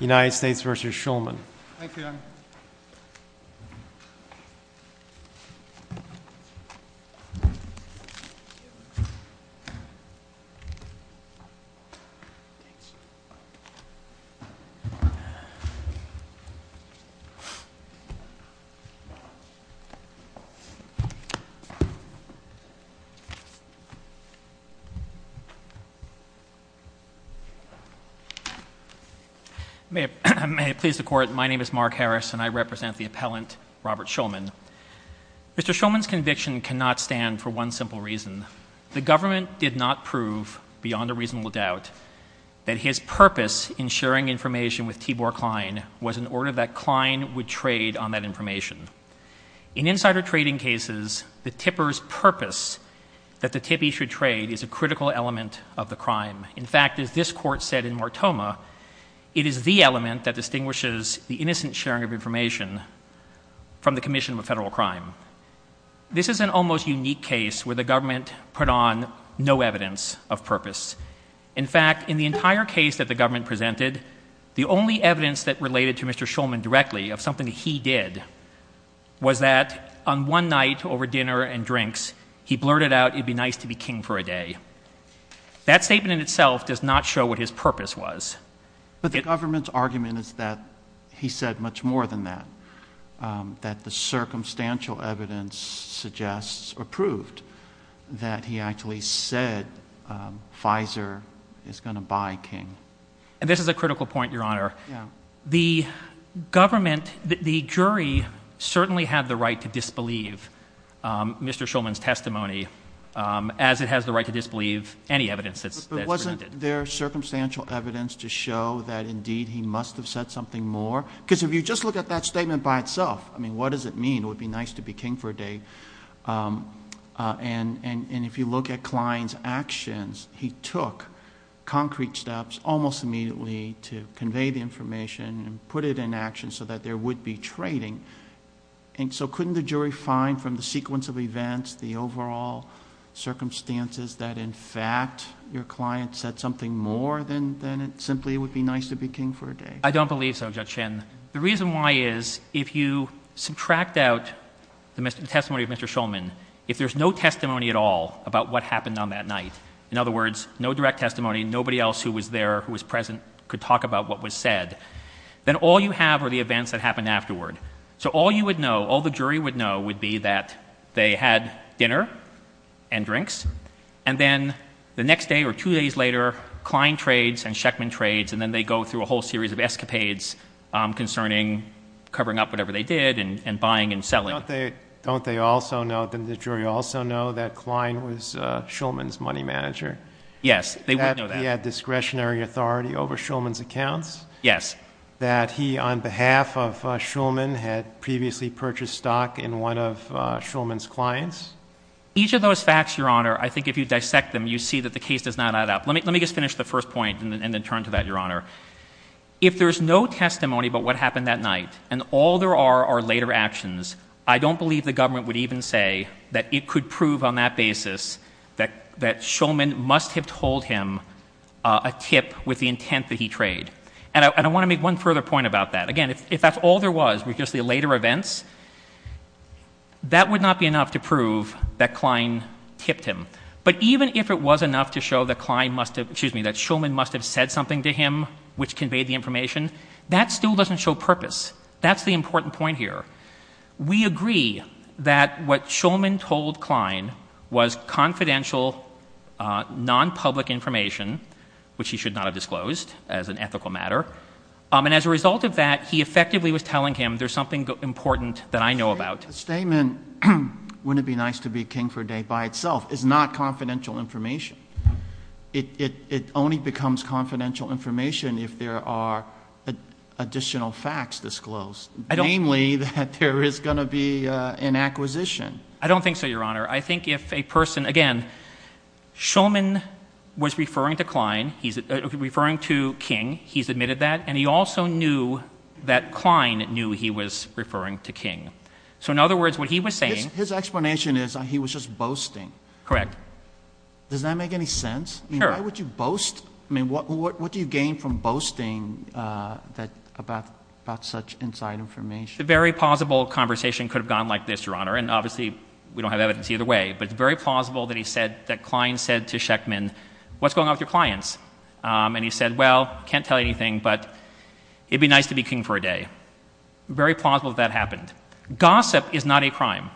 United States v. Shulman May it please the Court, my name is Mark Harris and I represent the appellant Robert Shulman. Mr. Shulman's conviction cannot stand for one simple reason. The government did not prove, beyond a reasonable doubt, that his purpose in sharing information with Tibor Klein was in order that Klein would trade on that information. In insider trading cases, the tipper's purpose that the tippee should trade is a critical element of the crime. In fact, as this Court said in Mortoma, it is the element that distinguishes the innocent sharing of information from the commission of a federal crime. This is an almost unique case where the government put on no evidence of purpose. In fact, in the entire case that the government presented, the only evidence that related to Mr. Shulman directly of something that he did was that on one night over dinner and drinks, he blurted out, you'd be nice to be king for a day. That statement in itself does not show what his purpose was. But the government's argument is that he said much more than that. That the circumstantial evidence suggests or proved that he actually said Pfizer is going to buy King. And this is a critical point, Your Honor. The government, the jury certainly had the right to disbelieve Mr. Shulman's testimony as it has the right to disbelieve any evidence that's presented. But wasn't there circumstantial evidence to show that indeed he must have said something more? Because if you just look at that statement by itself, I mean, what does it mean, it would be nice to be king for a day? And if you look at Klein's actions, he took concrete steps almost immediately to convey the information and put it in action so that there would be trading. And so couldn't the jury find from the sequence of events, the overall circumstances, that in fact your client said something more than it simply would be nice to be king for a day? I don't believe so, Judge Shin. The reason why is if you subtract out the testimony of Mr. Shulman, if there's no testimony at all about what happened on that night, in other words, no direct testimony, nobody else who was there who was present could talk about what was said, then all you have are the events that happened afterward. So all you would know, all the jury would know would be that they had dinner and drinks, and then the next day or two days later, Klein trades and Sheckman trades, and then they go through a whole series of escapades concerning covering up whatever they did and buying and selling. Don't they also know, didn't the jury also know that Klein was Shulman's money manager? Yes, they would know that. That he had discretionary authority over Shulman's accounts? Yes. That he, on behalf of Shulman, had previously purchased stock in one of Shulman's clients? Each of those facts, Your Honor, I think if you dissect them, you see that the case does not add up. Let me just finish the first point and then turn to that, Your Honor. If there's no testimony about what happened that night, and all there are are later actions, I don't believe the government would even say that it could prove on that basis that Shulman must have told him a tip with the intent that he traded. And I want to make one further point about that. Again, if that's all there was were just the later events, that would not be enough to prove that Klein tipped him. But even if it was enough to show that Shulman must have said something to him which conveyed the information, that still doesn't show purpose. That's the important point here. We agree that what Shulman told Klein was confidential, non-public information, which he should not have disclosed as an ethical matter. And as a result of that, he effectively was telling him there's something important that I know about. The statement, wouldn't it be nice to be king for a day by itself, is not confidential information. It only becomes confidential information if there are additional facts disclosed, namely that there is going to be an acquisition. I don't think so, Your Honor. I think if a person, again, Shulman was referring to Klein, referring to King, he's admitted that, and he also knew that Klein knew he was referring to King. So in other words, what he was saying— His explanation is he was just boasting. Correct. Does that make any sense? Sure. Why would you boast? I mean, what do you gain from boasting about such inside information? A very plausible conversation could have gone like this, Your Honor, and obviously we don't have evidence either way, but it's very plausible that Klein said to Sheckman, what's going on with your clients? And he said, well, can't tell you anything, but it would be nice to be king for a day. Very plausible that that happened. Gossip is not a crime.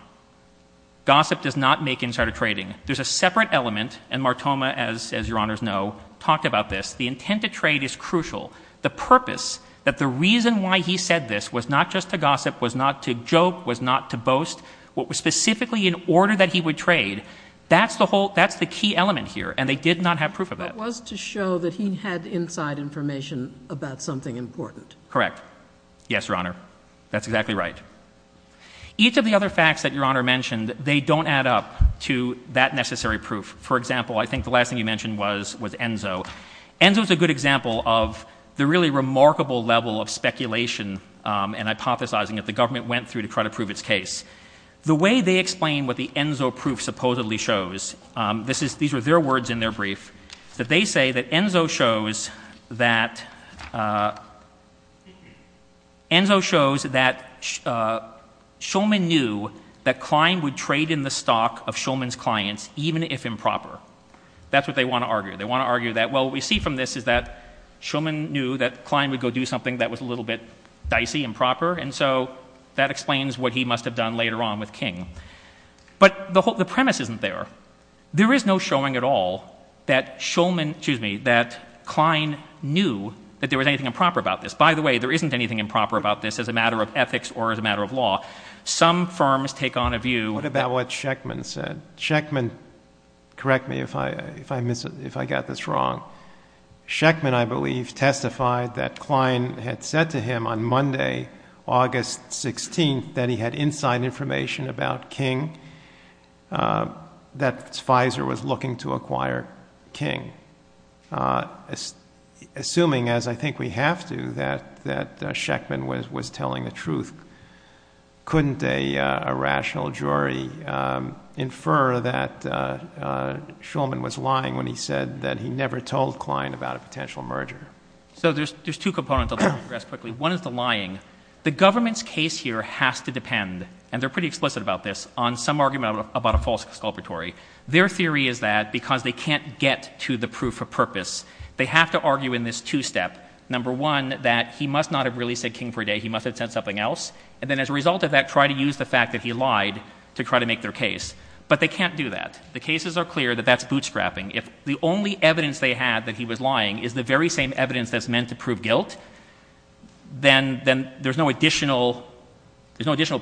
Gossip does not make insider trading. There's a separate element, and Martoma, as Your Honors know, talked about this. The intent to trade is crucial. The purpose, that the reason why he said this was not just to gossip, was not to joke, was not to boast, what was specifically in order that he would trade, that's the key element here, and they did not have proof of that. It was to show that he had inside information about something important. Correct. Yes, Your Honor. That's exactly right. Each of the other facts that Your Honor mentioned, they don't add up to that necessary proof. For example, I think the last thing you mentioned was Enzo. Enzo is a good example of the really remarkable level of speculation and hypothesizing that the government went through to try to prove its case. The way they explain what the Enzo proof supposedly shows, these were their words in their brief, that they say that Enzo shows that Shulman knew that Klein would trade in the stock of Shulman's clients even if improper. That's what they want to argue. They want to argue that, well, what we see from this is that Shulman knew that Klein would go do something that was a little bit dicey, improper, and so that explains what he must have done later on with King. But the premise isn't there. There is no showing at all that Shulman, excuse me, that Klein knew that there was anything improper about this. By the way, there isn't anything improper about this as a matter of ethics or as a matter of law. Some firms take on a view. What about what Scheckman said? Scheckman, correct me if I got this wrong, Scheckman, I believe, testified that Klein had said to him on Monday, August 16th, that he had inside information about King, that Pfizer was looking to acquire King. Assuming, as I think we have to, that Scheckman was telling the truth, couldn't a rational jury infer that Shulman was lying when he said that he never told Klein about a potential merger? So there's two components. I'll digress quickly. One is the lying. The government's case here has to depend, and they're pretty explicit about this, on some argument about a false exculpatory. Their theory is that because they can't get to the proof of purpose, they have to argue in this two-step. Number one, that he must not have really said King for a day. He must have said something else. And then as a result of that, try to use the fact that he lied to try to make their case. But they can't do that. The cases are clear that that's bootstrapping. If the only evidence they had that he was lying is the very same evidence that's meant to prove guilt, then there's no additional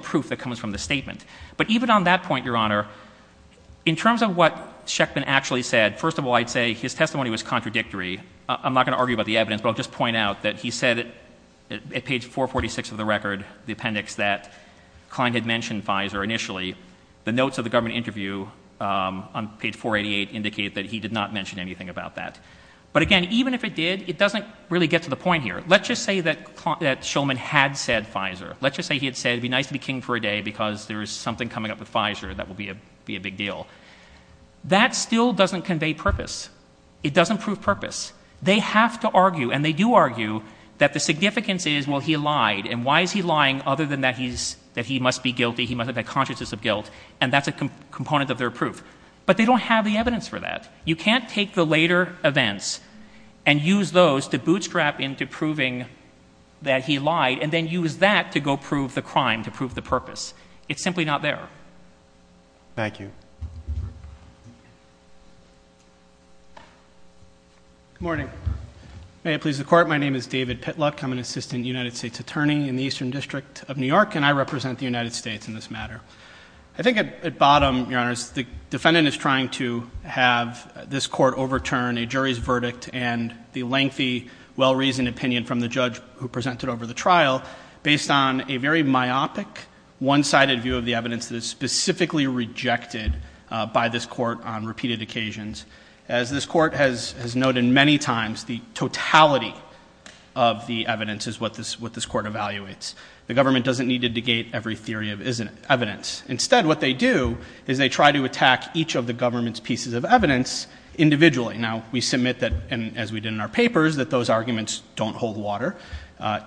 proof that comes from the statement. But even on that point, Your Honor, in terms of what Scheckman actually said, first of all, I'd say his testimony was contradictory. I'm not going to argue about the evidence, but I'll just point out that he said at page 446 of the record, the appendix that Klein had mentioned Pfizer initially, the notes of the government interview on page 488 indicate that he did not mention anything about that. But again, even if it did, it doesn't really get to the point here. Let's just say that Shulman had said Pfizer. Let's just say he had said it would be nice to be King for a day because there is something coming up with Pfizer that will be a big deal. That still doesn't convey purpose. It doesn't prove purpose. They have to argue, and they do argue, that the significance is, well, he lied, and why is he lying other than that he must be guilty, he must have had consciences of guilt, and that's a component of their proof. But they don't have the evidence for that. You can't take the later events and use those to bootstrap into proving that he lied and then use that to go prove the crime, to prove the purpose. It's simply not there. Thank you. Good morning. May it please the Court, my name is David Pitluck. I'm an assistant United States attorney in the Eastern District of New York, and I represent the United States in this matter. I think at bottom, Your Honor, the defendant is trying to have this court overturn a jury's verdict and the lengthy, well-reasoned opinion from the judge who presented over the trial based on a very myopic, one-sided view of the evidence that is specifically rejected by this court on repeated occasions. As this court has noted many times, the totality of the evidence is what this court evaluates. The government doesn't need to negate every theory of evidence. Instead, what they do is they try to attack each of the government's pieces of evidence individually. Now, we submit that, as we did in our papers, that those arguments don't hold water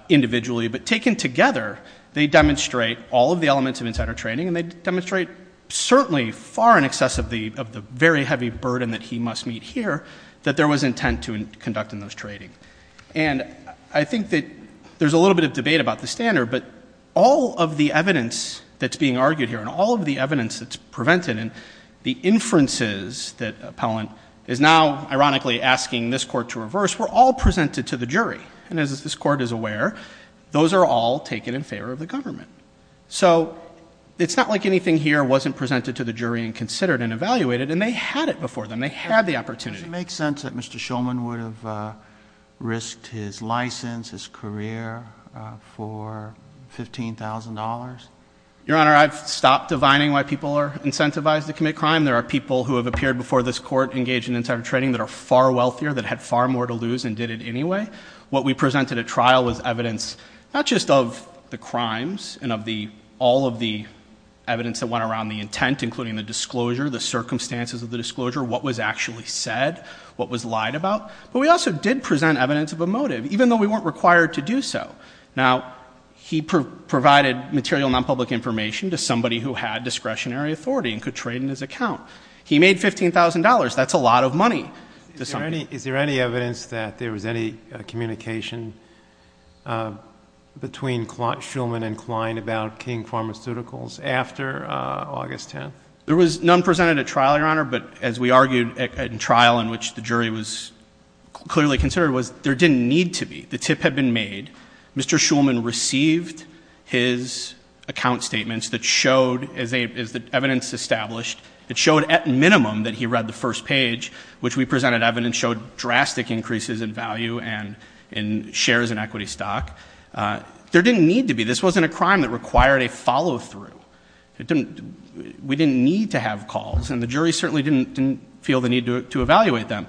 individually, but taken together, they demonstrate all of the elements of insider trading and they demonstrate certainly far in excess of the very heavy burden that he must meet here that there was intent to conduct in those trading. And I think that there's a little bit of debate about the standard, but all of the evidence that's being argued here and all of the evidence that's prevented and the inferences that the appellant is now, ironically, asking this court to reverse were all presented to the jury. And as this court is aware, those are all taken in favor of the government. So it's not like anything here wasn't presented to the jury and considered and evaluated, and they had it before them. They had the opportunity. Does it make sense that Mr. Shulman would have risked his license, his career, for $15,000? Your Honor, I've stopped divining why people are incentivized to commit crime. There are people who have appeared before this court engaged in insider trading that are far wealthier, that had far more to lose and did it anyway. What we presented at trial was evidence not just of the crimes and of all of the evidence that went around the intent, including the disclosure, the circumstances of the disclosure, what was actually said, what was lied about, but we also did present evidence of a motive, even though we weren't required to do so. Now, he provided material nonpublic information to somebody who had discretionary authority and could trade in his account. He made $15,000. That's a lot of money to somebody. Is there any evidence that there was any communication between Shulman and Klein about King Pharmaceuticals after August 10th? There was none presented at trial, Your Honor, but as we argued at trial in which the jury was clearly considered, there didn't need to be. The tip had been made. Mr. Shulman received his account statements that showed, as the evidence established, it showed at minimum that he read the first page, which we presented evidence, showed drastic increases in value and in shares in equity stock. There didn't need to be. This wasn't a crime that required a follow-through. We didn't need to have calls, and the jury certainly didn't feel the need to evaluate them.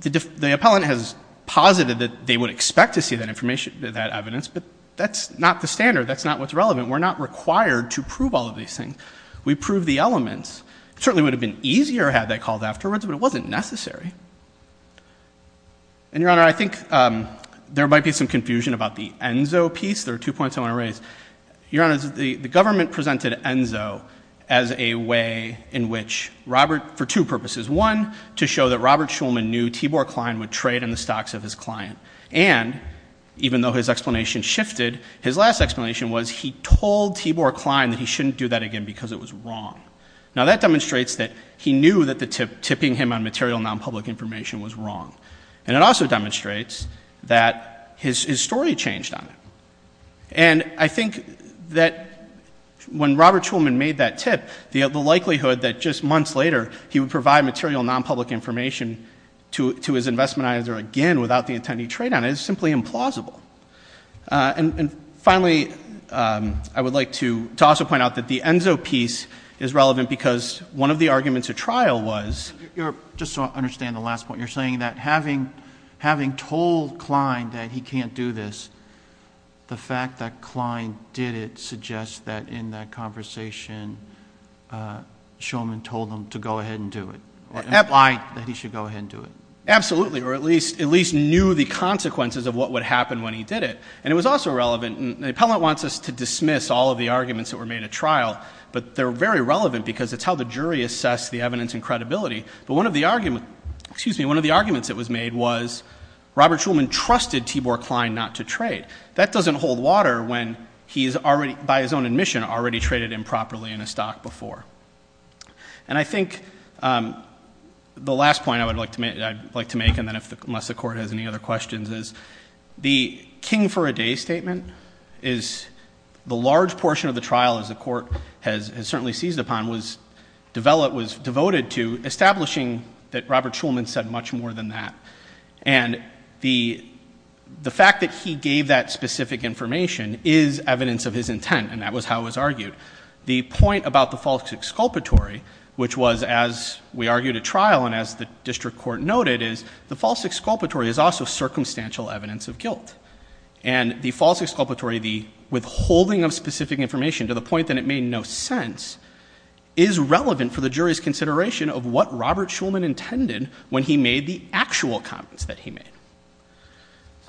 The appellant has posited that they would expect to see that evidence, but that's not the standard. That's not what's relevant. We're not required to prove all of these things. We proved the elements. It certainly would have been easier had they called afterwards, but it wasn't necessary. And, Your Honor, I think there might be some confusion about the Enzo piece. There are two points I want to raise. Your Honor, the government presented Enzo as a way in which Robert, for two purposes. One, to show that Robert Shulman knew Tibor Klein would trade in the stocks of his client. And, even though his explanation shifted, his last explanation was he told Tibor Klein that he shouldn't do that again because it was wrong. Now, that demonstrates that he knew that the tipping him on material nonpublic information was wrong. And it also demonstrates that his story changed on it. And I think that when Robert Shulman made that tip, the likelihood that just months later he would provide material nonpublic information to his investment advisor again without the intent he'd trade on it is simply implausible. And, finally, I would like to also point out that the Enzo piece is relevant because one of the arguments at trial was... The fact that Klein did it suggests that, in that conversation, Shulman told him to go ahead and do it. Implied that he should go ahead and do it. Absolutely, or at least knew the consequences of what would happen when he did it. And it was also relevant. And the appellant wants us to dismiss all of the arguments that were made at trial. But they're very relevant because it's how the jury assessed the evidence and credibility. But one of the arguments that was made was Robert Shulman trusted Tibor Klein not to trade. That doesn't hold water when he's already, by his own admission, already traded improperly in a stock before. And I think the last point I would like to make, and then unless the Court has any other questions, is the king for a day statement is the large portion of the trial, as the Court has certainly seized upon, was devoted to establishing that Robert Shulman said much more than that. And the fact that he gave that specific information is evidence of his intent, and that was how it was argued. The point about the false exculpatory, which was, as we argued at trial and as the district court noted, is the false exculpatory is also circumstantial evidence of guilt. And the false exculpatory, the withholding of specific information to the point that it made no sense, is relevant for the jury's consideration of what Robert Shulman intended when he made the actual comments that he made.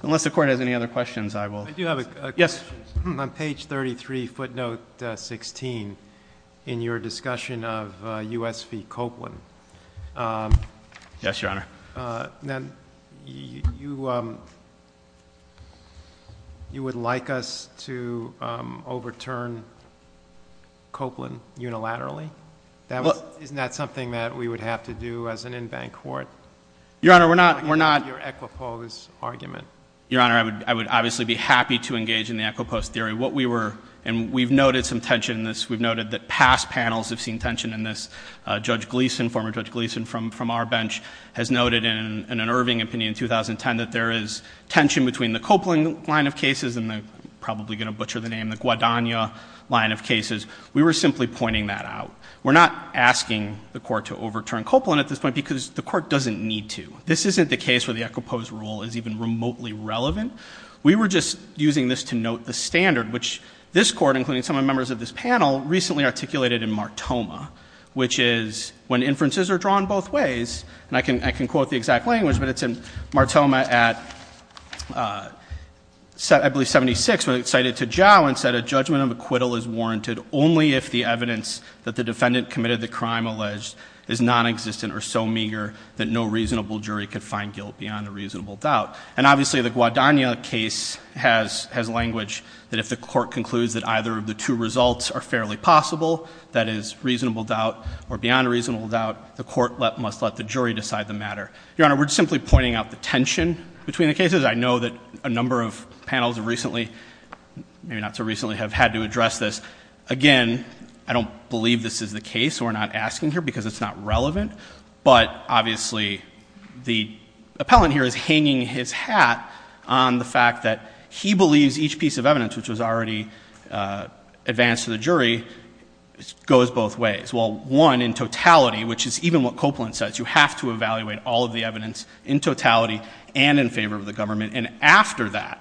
Unless the Court has any other questions, I will. I do have a question. Yes. On page 33, footnote 16, in your discussion of U.S. v. Copeland. Yes, Your Honor. You would like us to overturn Copeland unilaterally? Isn't that something that we would have to do as an in-bank court? Your Honor, we're not. Your Equipose argument. Your Honor, I would obviously be happy to engage in the Equipose theory. What we were, and we've noted some tension in this, we've noted that past panels have seen tension in this. Judge Gleeson, former Judge Gleeson from our bench, has noted in an Irving opinion in 2010 that there is tension between the Copeland line of cases and the, probably going to butcher the name, the Guadagna line of cases. We were simply pointing that out. We're not asking the Court to overturn Copeland at this point because the Court doesn't need to. This isn't the case where the Equipose rule is even remotely relevant. We were just using this to note the standard, which this Court, including some of the members of this panel, recently articulated in Martoma, which is when inferences are drawn both ways, and I can quote the exact language, but it's in Martoma at, I believe, 76, when it's cited to Jow and said, A judgment of acquittal is warranted only if the evidence that the defendant committed the crime alleged is nonexistent or so meager that no reasonable jury could find guilt beyond a reasonable doubt. And obviously the Guadagna case has language that if the Court concludes that either of the two results are fairly possible, that is reasonable doubt or beyond reasonable doubt, the Court must let the jury decide the matter. Your Honor, we're simply pointing out the tension between the cases. I know that a number of panels recently, maybe not so recently, have had to address this. Again, I don't believe this is the case. We're not asking here because it's not relevant. But obviously the appellant here is hanging his hat on the fact that he believes each piece of evidence, which was already advanced to the jury, goes both ways. Well, one, in totality, which is even what Copeland says, you have to evaluate all of the evidence in totality and in favor of the government. And after that,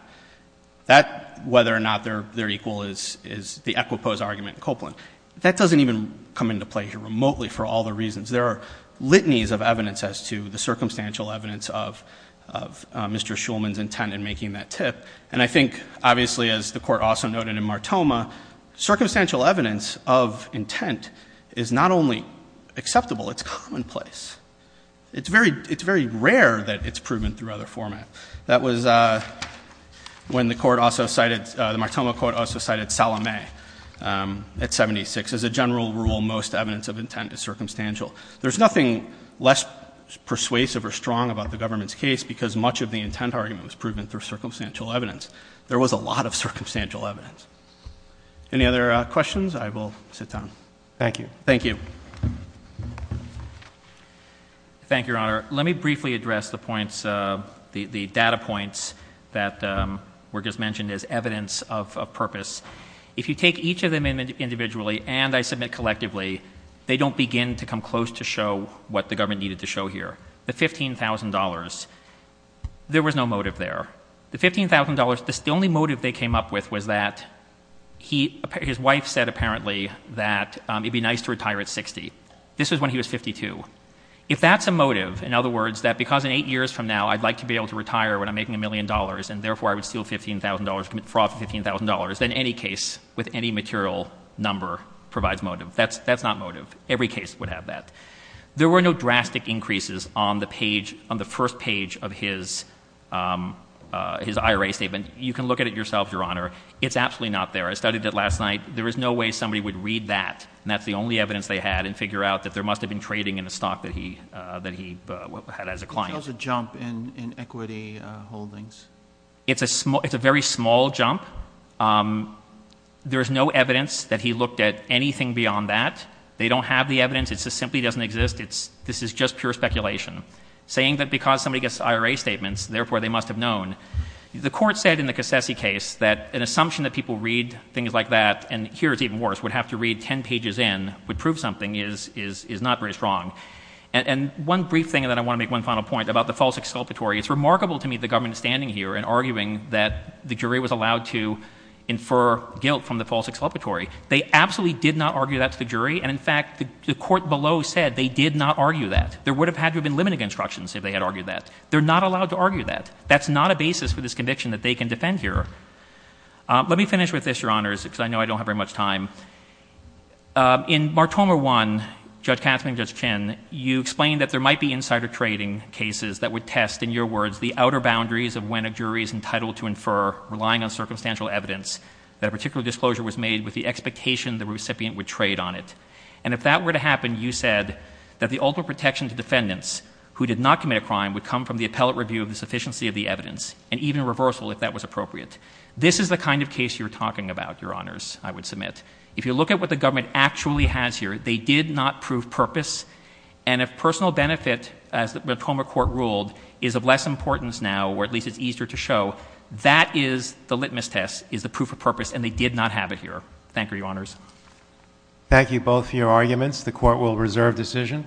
whether or not they're equal is the equipose argument in Copeland. That doesn't even come into play here remotely for all the reasons. There are litanies of evidence as to the circumstantial evidence of Mr. Shulman's intent in making that tip. And I think, obviously, as the Court also noted in Martoma, circumstantial evidence of intent is not only acceptable, it's commonplace. It's very rare that it's proven through other format. That was when the Court also cited, the Martoma Court also cited Salome at 76. As a general rule, most evidence of intent is circumstantial. There's nothing less persuasive or strong about the government's case because much of the intent argument was proven through circumstantial evidence. There was a lot of circumstantial evidence. Any other questions? I will sit down. Thank you. Thank you. Thank you, Your Honor. Let me briefly address the points, the data points that were just mentioned as evidence of purpose. If you take each of them individually and I submit collectively, they don't begin to come close to show what the government needed to show here. The $15,000, there was no motive there. The $15,000, the only motive they came up with was that his wife said apparently that it would be nice to retire at 60. This was when he was 52. If that's a motive, in other words, that because in eight years from now I'd like to be able to retire when I'm making a million dollars and therefore I would steal $15,000, commit fraud for $15,000, then any case with any material number provides motive. That's not motive. Every case would have that. There were no drastic increases on the page, on the first page of his IRA statement. You can look at it yourselves, Your Honor. It's absolutely not there. I studied it last night. There is no way somebody would read that and that's the only evidence they had and figure out that there must have been trading in a stock that he had as a client. How's the jump in equity holdings? It's a very small jump. There is no evidence that he looked at anything beyond that. They don't have the evidence. It just simply doesn't exist. This is just pure speculation. Saying that because somebody gets IRA statements, therefore they must have known. The Court said in the Cassessi case that an assumption that people read things like that, and here it's even worse, would have to read 10 pages in, would prove something is not very strong. And one brief thing, and then I want to make one final point about the false exculpatory. It's remarkable to me the government standing here and arguing that the jury was allowed to infer guilt from the false exculpatory. They absolutely did not argue that to the jury, and in fact, the Court below said they did not argue that. There would have had to have been limiting instructions if they had argued that. They're not allowed to argue that. That's not a basis for this conviction that they can defend here. Let me finish with this, Your Honors, because I know I don't have very much time. In Martoma 1, Judge Katzman and Judge Chin, you explained that there might be insider trading cases that would test, in your words, the outer boundaries of when a jury is entitled to infer, relying on circumstantial evidence, that a particular disclosure was made with the expectation the recipient would trade on it. And if that were to happen, you said that the ultimate protection to defendants who did not commit a crime would come from the appellate review of the sufficiency of the evidence, and even reversal if that was appropriate. This is the kind of case you're talking about, Your Honors, I would submit. If you look at what the government actually has here, they did not prove purpose, and if personal benefit, as the Martoma Court ruled, is of less importance now, or at least it's easier to show, that is the litmus test, is the proof of purpose, and they did not have it here. Thank you, Your Honors. Thank you both for your arguments. The Court will reserve decision.